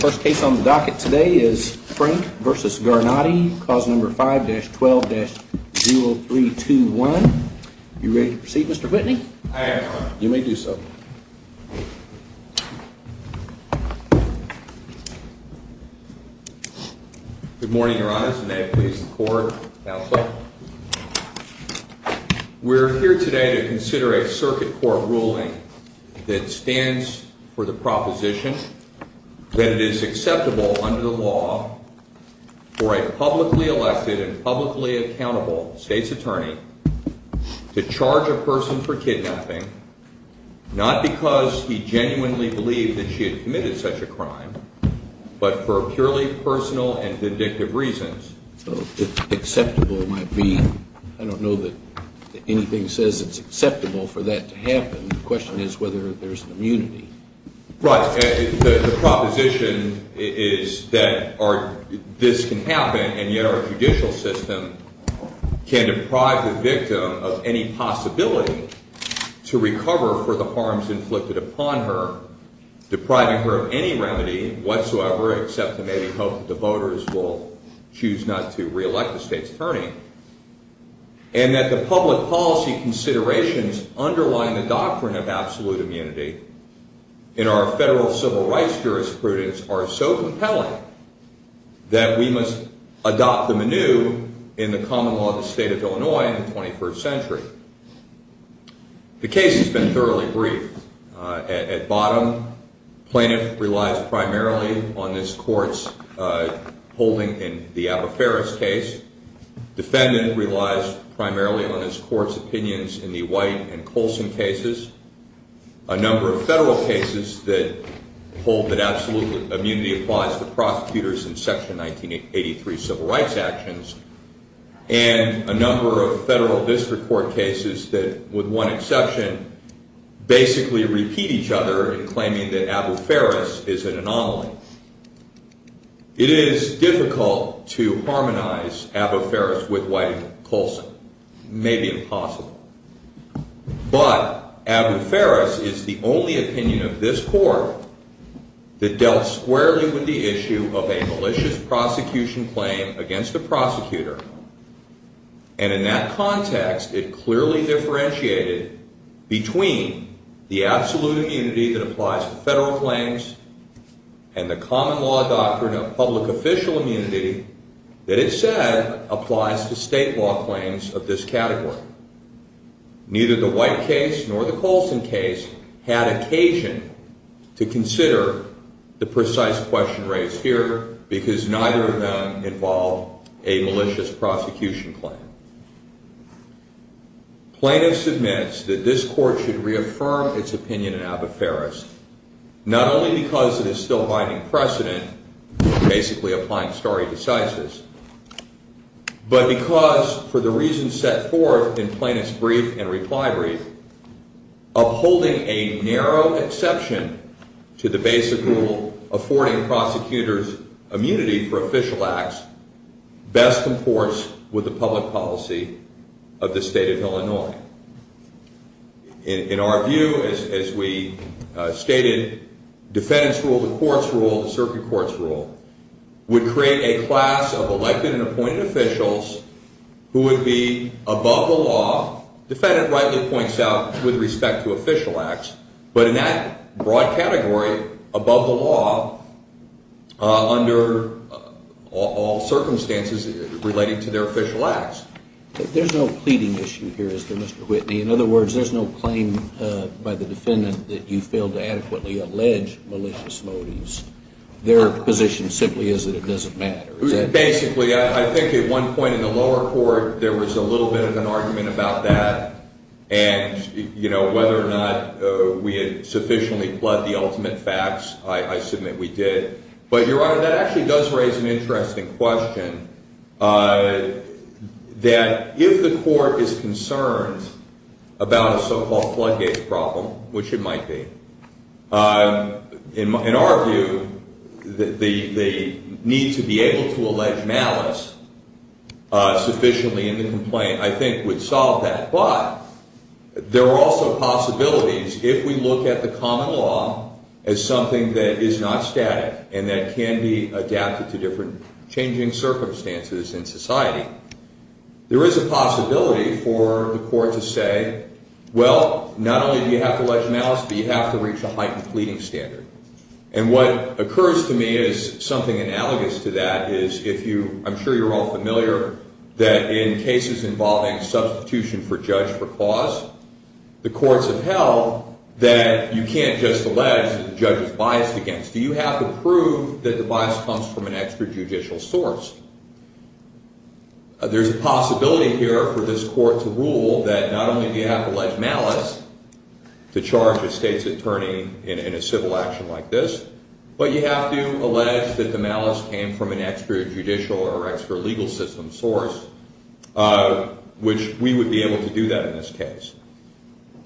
First case on the docket today is Frank v. Garnati, clause number 5-12-0321. Are you ready to proceed, Mr. Whitney? I am, Your Honor. You may do so. Good morning, Your Honors, and may it please the Court, counsel. We're here today to consider a circuit court ruling that stands for the proposition that it is acceptable under the law for a publicly elected and publicly accountable state's attorney to charge a person for kidnapping, not because he genuinely believed that she had committed such a crime, but for purely personal and vindictive reasons. So it's acceptable might be, I don't know that anything says it's acceptable for that to happen. The question is whether there's an immunity. Right. The proposition is that this can happen, and yet our judicial system can deprive the victim of any possibility to recover for the harms inflicted upon her, depriving her of any remedy whatsoever, except to maybe hope that the voters will choose not to reelect the state's attorney. And that the public policy considerations underlying the doctrine of absolute immunity in our federal civil rights jurisprudence are so compelling that we must adopt them anew in the common law of the state of Illinois in the 21st century. The case has been thoroughly briefed. At bottom, plaintiff relies primarily on this court's holding in the Abba Ferris case. Defendant relies primarily on this court's opinions in the White and Colson cases. A number of federal cases that hold that absolute immunity applies to prosecutors in Section 1983 civil rights actions. And a number of federal district court cases that, with one exception, basically repeat each other in claiming that Abba Ferris is an anomaly. It is difficult to harmonize Abba Ferris with White and Colson. Maybe impossible. But Abba Ferris is the only opinion of this court that dealt squarely with the issue of a malicious prosecution claim against a prosecutor. And in that context, it clearly differentiated between the absolute immunity that applies to federal claims and the common law doctrine of public official immunity that it said applies to state law claims of this category. Neither the White case nor the Colson case had occasion to consider the precise question raised here because neither of them involved a malicious prosecution claim. Plaintiff submits that this court should reaffirm its opinion in Abba Ferris, not only because it is still binding precedent, basically applying stare decisis, but because, for the reasons set forth in plaintiff's brief and reply brief, upholding a narrow exception to the basic rule affording prosecutors immunity for official acts best comports with the public policy of the state of Illinois. In our view, as we stated, defendant's rule, the court's rule, the circuit court's rule would create a class of elected and appointed officials who would be above the law. Defendant rightly points out with respect to official acts, but in that broad category, above the law, under all circumstances relating to their official acts. There's no pleading issue here, is there, Mr. Whitney? In other words, there's no claim by the defendant that you failed to adequately allege malicious motives. Their position simply is that it doesn't matter. Basically, I think at one point in the lower court, there was a little bit of an argument about that. And, you know, whether or not we had sufficiently bled the ultimate facts, I submit we did. But, Your Honor, that actually does raise an interesting question. That if the court is concerned about a so-called floodgate problem, which it might be, in our view, the need to be able to allege malice sufficiently in the complaint, I think, would solve that. But there are also possibilities if we look at the common law as something that is not static and that can be adapted to different changing circumstances in society. There is a possibility for the court to say, well, not only do you have to allege malice, but you have to reach a heightened pleading standard. And what occurs to me is something analogous to that is if you, I'm sure you're all familiar, that in cases involving substitution for judge for cause, the courts have held that you can't just allege that the judge is biased against. You have to prove that the bias comes from an extrajudicial source. There's a possibility here for this court to rule that not only do you have to allege malice to charge a state's attorney in a civil action like this, but you have to allege that the malice came from an extrajudicial or extralegal system source, which we would be able to do that in this case.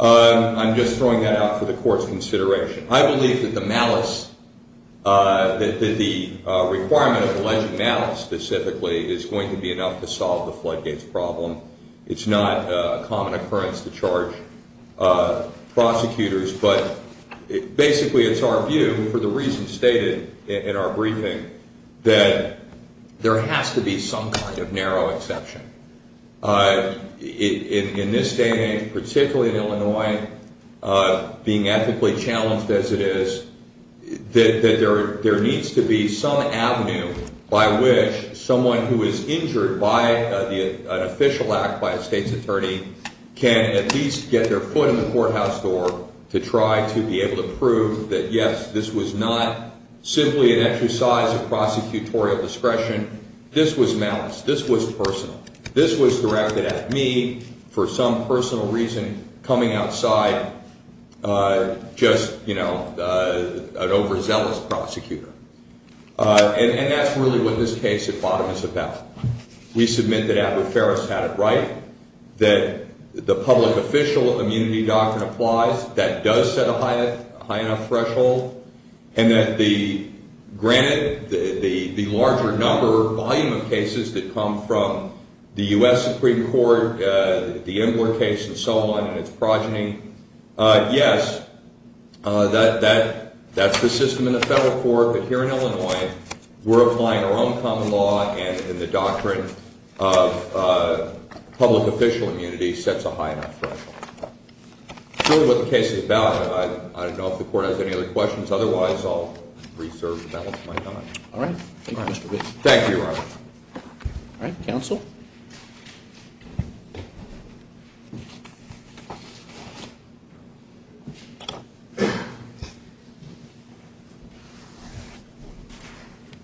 I'm just throwing that out for the court's consideration. I believe that the malice, that the requirement of alleged malice specifically is going to be enough to solve the floodgates problem. It's not a common occurrence to charge prosecutors, but basically it's our view, for the reasons stated in our briefing, that there has to be some kind of narrow exception. In this day and age, particularly in Illinois, being ethically challenged as it is, that there needs to be some avenue by which someone who is injured by an official act by a state's attorney can at least get their foot in the courthouse door to try to be able to prove that, yes, this was not simply an exercise of prosecutorial discretion. This was malice. This was personal. This was directed at me for some personal reason, coming outside just an overzealous prosecutor. And that's really what this case at bottom is about. We submit that Abbott-Ferris had it right, that the public official immunity doctrine applies, that does set a high enough threshold, and that, granted, the larger number, volume of cases that come from the U.S. Supreme Court, the Imler case and so on and its progeny, yes, that's the system in the federal court. But here in Illinois, we're applying our own common law, and the doctrine of public official immunity sets a high enough threshold. That's really what the case is about. I don't know if the court has any other questions. Otherwise, I'll reserve the balance of my time. All right. Thank you, Mr. Bishop. Thank you, Your Honor. All right. Counsel?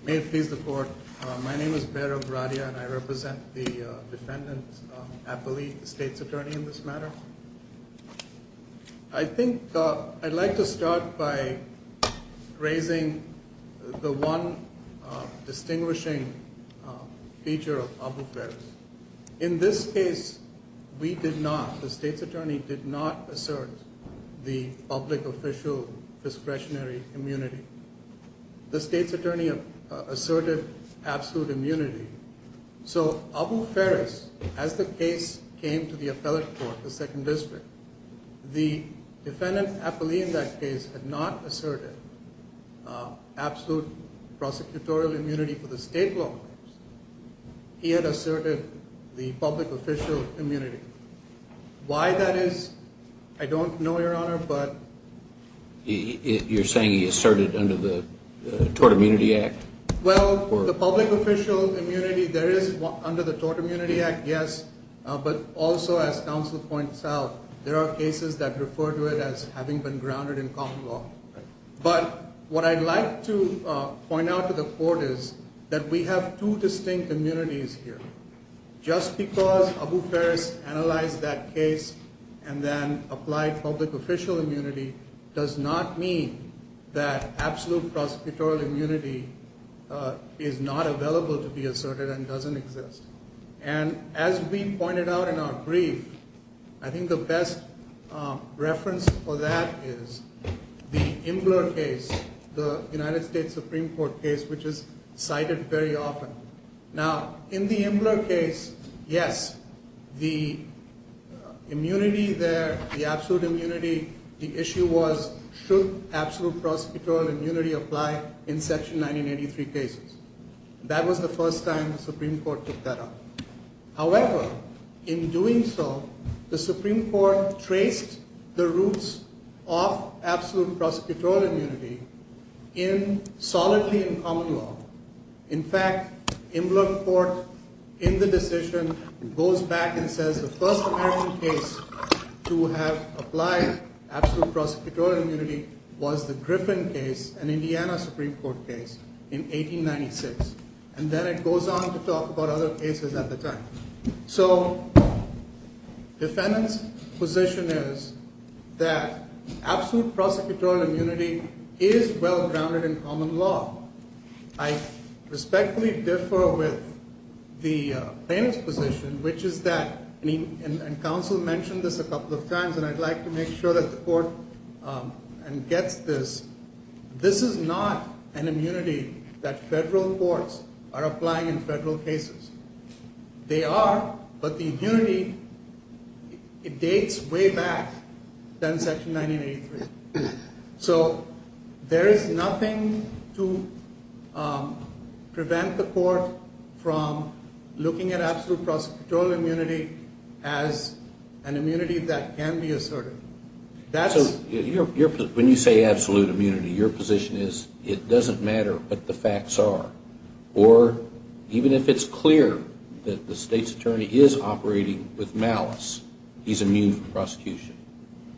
May it please the court. My name is Bairab Radia, and I represent the defendant, Appali, the state's attorney in this matter. I think I'd like to start by raising the one distinguishing feature of Abbott-Ferris. In this case, we did not, the state's attorney did not assert the public official discretionary immunity. The state's attorney asserted absolute immunity. So, Abbott-Ferris, as the case came to the appellate court, the second district, the defendant, Appali, in that case, had not asserted absolute prosecutorial immunity for the state law. He had asserted the public official immunity. Why that is, I don't know, Your Honor, but… You're saying he asserted under the Tort Immunity Act? Well, the public official immunity, there is under the Tort Immunity Act, yes, but also, as counsel points out, there are cases that refer to it as having been grounded in common law. But what I'd like to point out to the court is that we have two distinct immunities here. Just because Abbott-Ferris analyzed that case and then applied public official immunity does not mean that absolute prosecutorial immunity is not available to be asserted and doesn't exist. And as we pointed out in our brief, I think the best reference for that is the Imbler case, the United States Supreme Court case, which is cited very often. Now, in the Imbler case, yes, the immunity there, the absolute immunity, the issue was should absolute prosecutorial immunity apply in Section 1983 cases. That was the first time the Supreme Court took that up. However, in doing so, the Supreme Court traced the roots of absolute prosecutorial immunity in solidly in common law. In fact, Imbler court, in the decision, goes back and says the first American case to have applied absolute prosecutorial immunity was the Griffin case, an Indiana Supreme Court case, in 1896. And then it goes on to talk about other cases at the time. So defendant's position is that absolute prosecutorial immunity is well grounded in common law. I respectfully differ with the plaintiff's position, which is that, and counsel mentioned this a couple of times, and I'd like to make sure that the court gets this. This is not an immunity that federal courts are applying in federal cases. They are, but the immunity, it dates way back than Section 1983. So there is nothing to prevent the court from looking at absolute prosecutorial immunity as an immunity that can be asserted. When you say absolute immunity, your position is it doesn't matter what the facts are, or even if it's clear that the state's attorney is operating with malice, he's immune from prosecution.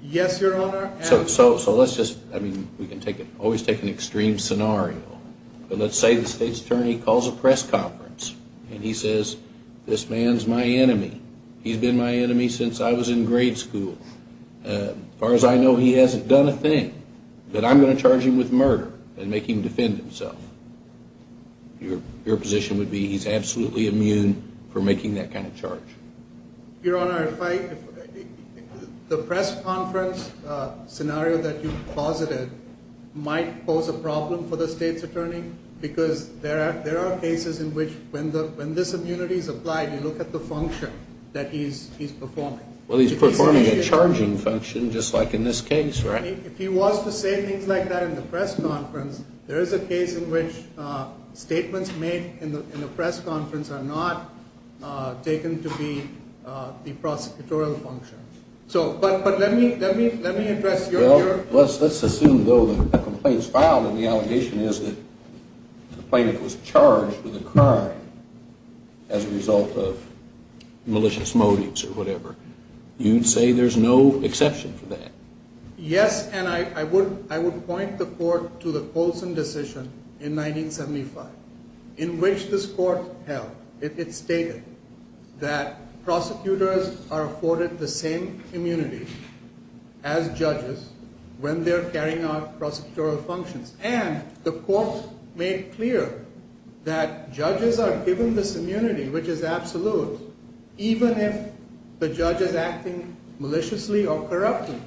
Yes, Your Honor. So let's just, I mean, we can always take an extreme scenario. But let's say the state's attorney calls a press conference, and he says, this man's my enemy. He's been my enemy since I was in grade school. As far as I know, he hasn't done a thing. But I'm going to charge him with murder and make him defend himself. Your position would be he's absolutely immune from making that kind of charge. Your Honor, the press conference scenario that you posited might pose a problem for the state's attorney because there are cases in which when this immunity is applied, you look at the function that he's performing. Well, he's performing a charging function, just like in this case, right? If he was to say things like that in the press conference, there is a case in which statements made in the press conference are not taken to be the prosecutorial function. So, but let me address your view. Well, let's assume, though, that a complaint is filed and the allegation is that the plaintiff was charged with a crime as a result of malicious motives or whatever. You'd say there's no exception for that? Yes, and I would point the court to the Colson decision in 1975 in which this court held. It stated that prosecutors are afforded the same immunity as judges when they're carrying out prosecutorial functions. And the court made clear that judges are given this immunity, which is absolute, even if the judge is acting maliciously or corruptly.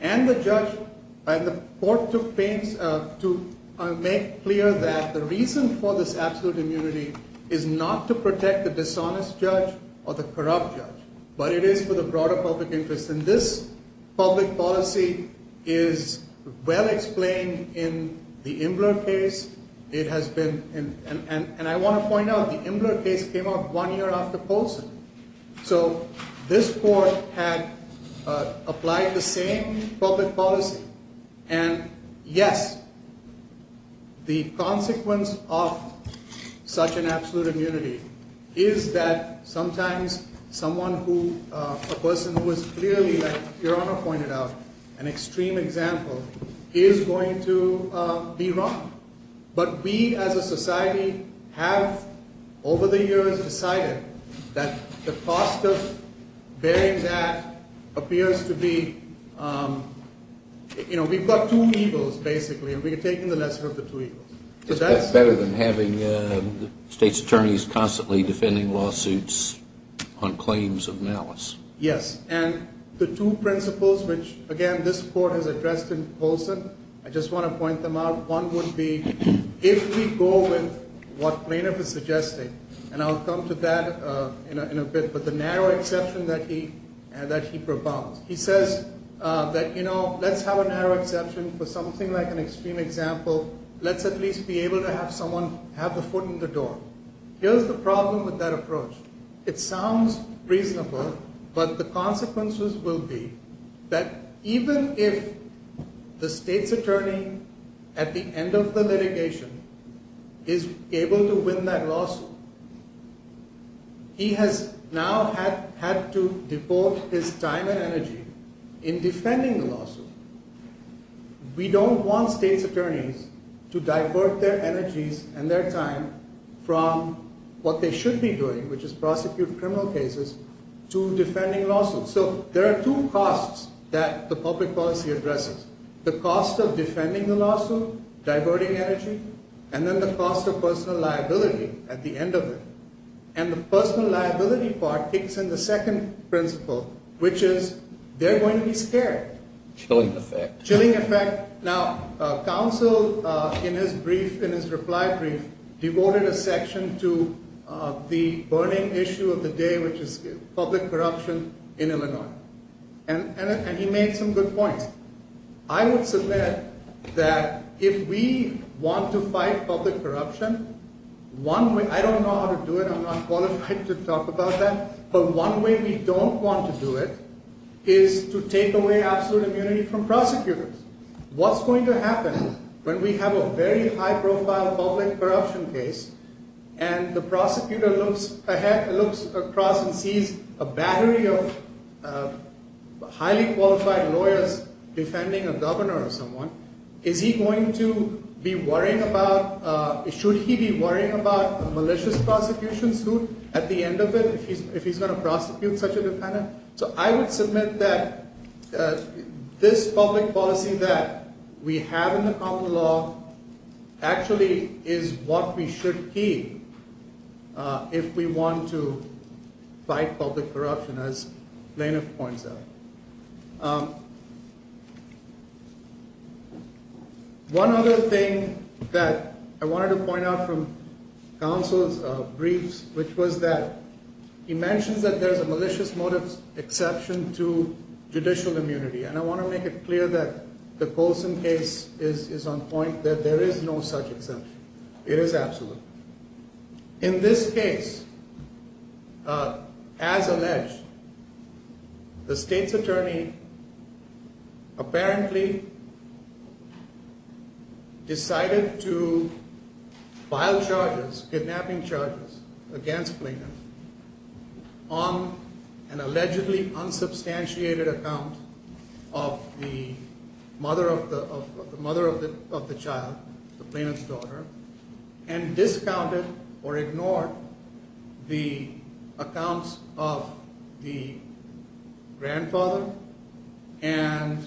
And the court took pains to make clear that the reason for this absolute immunity is not to protect the dishonest judge or the corrupt judge, but it is for the broader public interest. And this public policy is well explained in the Imbler case. It has been, and I want to point out, the Imbler case came out one year after Colson. So this court had applied the same public policy. And, yes, the consequence of such an absolute immunity is that sometimes someone who, a person who is clearly, like Your Honor pointed out, an extreme example, is going to be wrong. But we as a society have, over the years, decided that the cost of bearing that appears to be, you know, we've got two evils, basically, and we've taken the lesson of the two evils. It's better than having the state's attorneys constantly defending lawsuits on claims of malice. Yes, and the two principles which, again, this court has addressed in Colson, I just want to point them out. One would be if we go with what Planoff is suggesting, and I'll come to that in a bit, but the narrow exception that he proposed. He says that, you know, let's have a narrow exception for something like an extreme example. Let's at least be able to have someone have the foot in the door. It sounds reasonable, but the consequences will be that even if the state's attorney, at the end of the litigation, is able to win that lawsuit, he has now had to devote his time and energy in defending the lawsuit. We don't want state's attorneys to divert their energies and their time from what they should be doing, which is prosecute criminal cases, to defending lawsuits. So there are two costs that the public policy addresses, the cost of defending the lawsuit, diverting energy, and then the cost of personal liability at the end of it. And the personal liability part kicks in the second principle, which is they're going to be scared. Chilling effect. Chilling effect. Now, counsel, in his brief, in his reply brief, devoted a section to the burning issue of the day, which is public corruption in Illinois. And he made some good points. I would submit that if we want to fight public corruption, I don't know how to do it. I'm not qualified to talk about that. But one way we don't want to do it is to take away absolute immunity from prosecutors. What's going to happen when we have a very high-profile public corruption case and the prosecutor looks ahead, looks across and sees a battery of highly qualified lawyers defending a governor or someone? Is he going to be worrying about, should he be worrying about a malicious prosecution suit at the end of it if he's going to prosecute such a defendant? So I would submit that this public policy that we have in the common law actually is what we should keep if we want to fight public corruption, as Planoff points out. One other thing that I wanted to point out from counsel's briefs, which was that he mentions that there's a malicious motive exception to judicial immunity. And I want to make it clear that the Colson case is on point, that there is no such exception. It is absolute. In this case, as alleged, the state's attorney apparently decided to file charges, kidnapping charges, against Planoff on an allegedly unsubstantiated account of the mother of the child, Planoff's daughter. And discounted or ignored the accounts of the grandfather and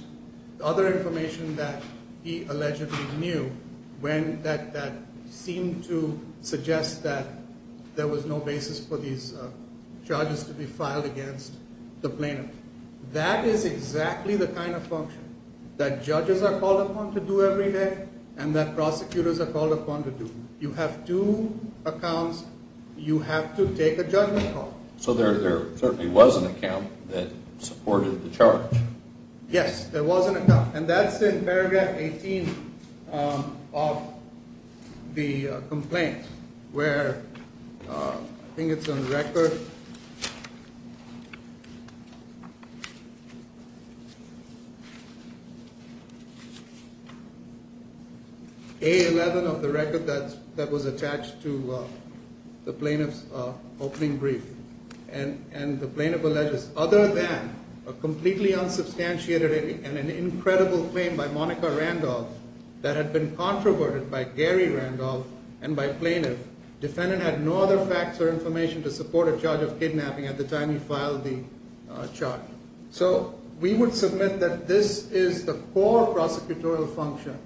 other information that he allegedly knew when that seemed to suggest that there was no basis for these charges to be filed against the Planoff. That is exactly the kind of function that judges are called upon to do every day and that prosecutors are called upon to do. You have two accounts. You have to take a judgment call. So there certainly was an account that supported the charge. Yes, there was an account. And that's in paragraph 18 of the complaint where I think it's on the record. A11 of the record that was attached to the Planoff's opening brief. And the Planoff alleges, other than a completely unsubstantiated and an incredible claim by Monica Randolph that had been controverted by Gary Randolph and by Planoff, defendant had no other facts or information to support a charge of kidnapping at the time he filed the charge. So we would submit that this is the core prosecutorial function.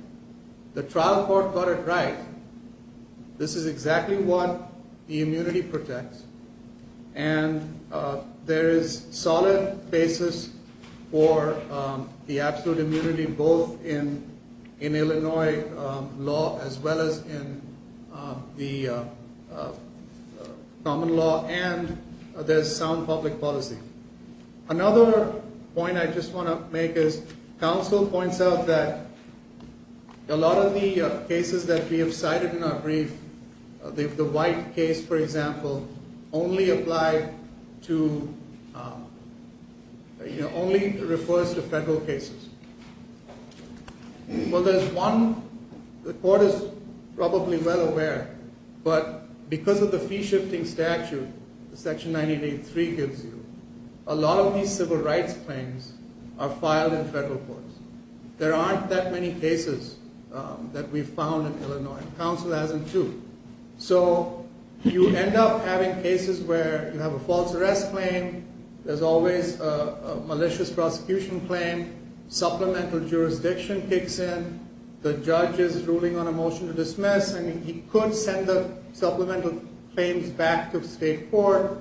The trial court got it right. This is exactly what the immunity protects. And there is solid basis for the absolute immunity both in Illinois law as well as in the common law and there's sound public policy. Another point I just want to make is counsel points out that a lot of the cases that we have cited in our brief, the white case, for example, only refers to federal cases. Well, there's one, the court is probably well aware, but because of the fee shifting statute, section 98.3 gives you, a lot of these civil rights claims are filed in federal courts. There aren't that many cases that we've found in Illinois. Counsel hasn't too. So you end up having cases where you have a false arrest claim. There's always a malicious prosecution claim. Supplemental jurisdiction kicks in. The judge is ruling on a motion to dismiss. I mean, he could send the supplemental claims back to the state court,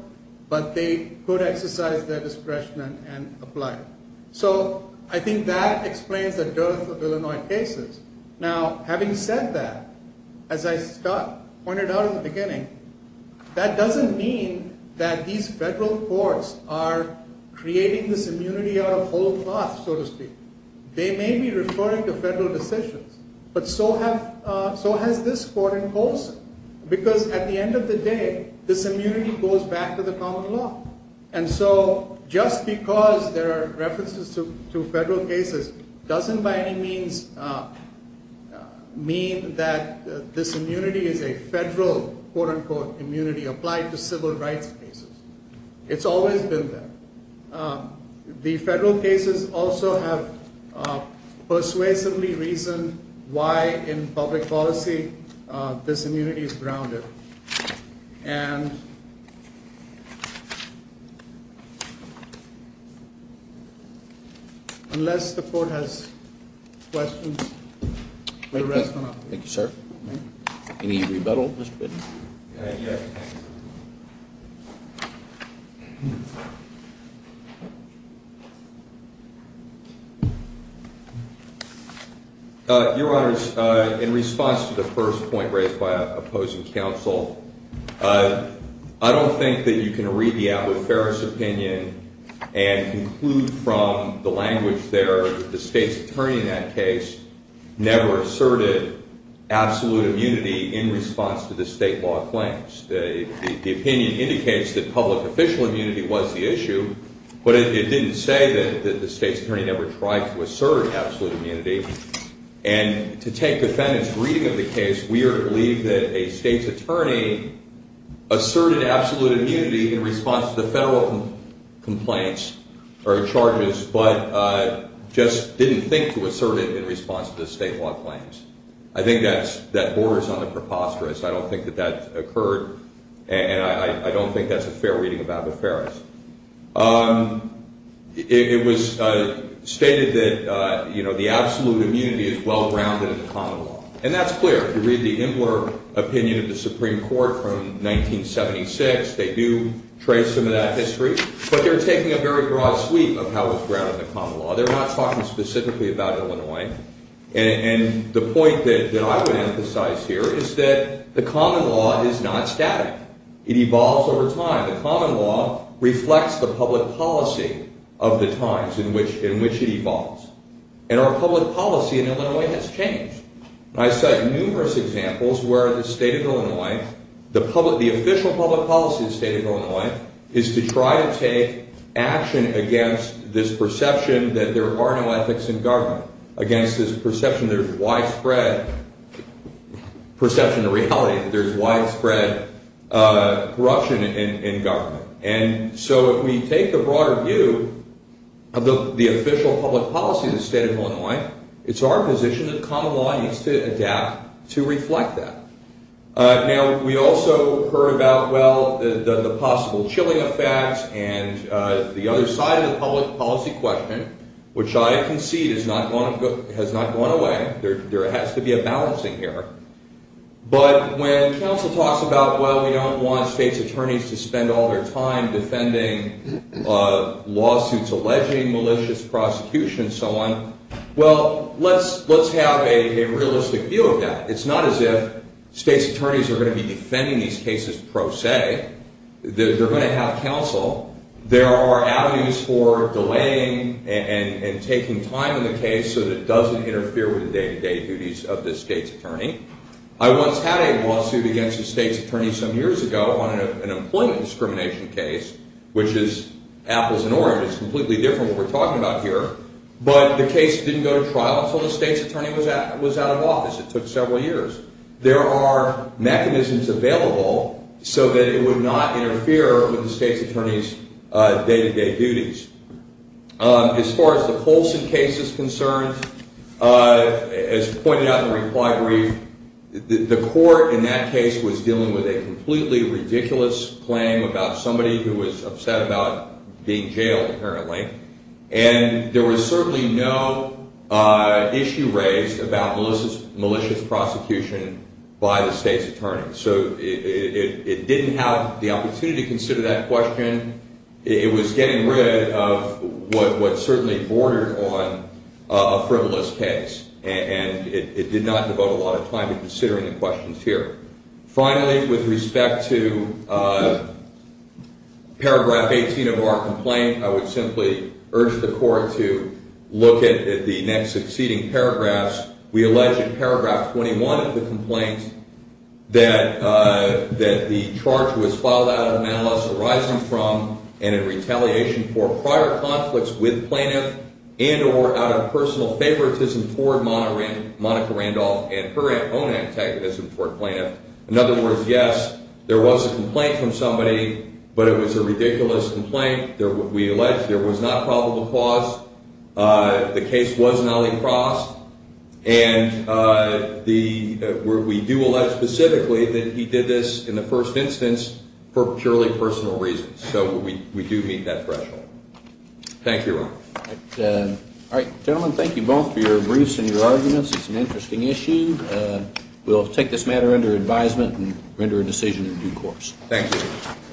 but they could exercise their discretion and apply. So I think that explains the dearth of Illinois cases. Now, having said that, as I pointed out in the beginning, that doesn't mean that these federal courts are creating this immunity out of whole cloth, so to speak. They may be referring to federal decisions, but so has this court in Colson, because at the end of the day, this immunity goes back to the common law. And so just because there are references to federal cases doesn't by any means mean that this immunity is a federal quote unquote immunity applied to civil rights cases. It's always been there. The federal cases also have persuasively reasoned why in public policy this immunity is grounded. And. Unless the court has questions. Thank you, sir. Any rebuttal. Yes. Your Honor, in response to the first point raised by opposing counsel. I don't think that you can read the Alwood-Ferris opinion and conclude from the language there that the state's attorney in that case never asserted absolute immunity in response to the state law claims. The opinion indicates that public official immunity was the issue, but it didn't say that the state's attorney never tried to assert absolute immunity. And to take defendant's reading of the case, we are to believe that a state's attorney asserted absolute immunity in response to the federal complaints or charges, but just didn't think to assert it in response to the state law claims. I think that borders on a preposterous. I don't think that that occurred. And I don't think that's a fair reading of Alwood-Ferris. It was stated that, you know, the absolute immunity is well grounded in the common law. And that's clear. You read the Imbler opinion of the Supreme Court from 1976. They do trace some of that history, but they're taking a very broad sweep of how it's grounded in the common law. They're not talking specifically about Illinois. And the point that I would emphasize here is that the common law is not static. It evolves over time. The common law reflects the public policy of the times in which it evolves. And our public policy in Illinois has changed. I cite numerous examples where the state of Illinois, the official public policy of the state of Illinois, is to try to take action against this perception that there are no ethics in government. Against this perception that there's widespread corruption in government. And so if we take the broader view of the official public policy of the state of Illinois, it's our position that common law needs to adapt to reflect that. Now, we also heard about, well, the possible chilling effects and the other side of the public policy question, which I concede has not gone away. There has to be a balancing here. But when counsel talks about, well, we don't want state's attorneys to spend all their time defending lawsuits, alleging malicious prosecution and so on, well, let's have a realistic view of that. It's not as if state's attorneys are going to be defending these cases pro se. They're going to have counsel. There are avenues for delaying and taking time in the case so that it doesn't interfere with the day-to-day duties of the state's attorney. I once had a lawsuit against a state's attorney some years ago on an employment discrimination case, which is apples and oranges. Completely different from what we're talking about here. But the case didn't go to trial until the state's attorney was out of office. It took several years. There are mechanisms available so that it would not interfere with the state's attorney's day-to-day duties. As far as the Colson case is concerned, as pointed out in the reply brief, the court in that case was dealing with a completely ridiculous claim about somebody who was upset about being jailed, apparently. And there was certainly no issue raised about malicious prosecution by the state's attorney. So it didn't have the opportunity to consider that question. It was getting rid of what certainly bordered on a frivolous case. And it did not devote a lot of time to considering the questions here. Finally, with respect to paragraph 18 of our complaint, I would simply urge the court to look at the next succeeding paragraphs. We allege in paragraph 21 of the complaint that the charge was filed out of malice arising from and in retaliation for prior conflicts with plaintiff and or out of personal favoritism toward Monica Randolph and her own antagonism toward plaintiff. In other words, yes, there was a complaint from somebody, but it was a ridiculous complaint. We allege there was not probable cause. The case was an Ali Cross, and we do allege specifically that he did this in the first instance for purely personal reasons. So we do meet that threshold. Thank you, Your Honor. All right. Gentlemen, thank you both for your briefs and your arguments. It's an interesting issue. We'll take this matter under advisement and render a decision in due course. Thank you.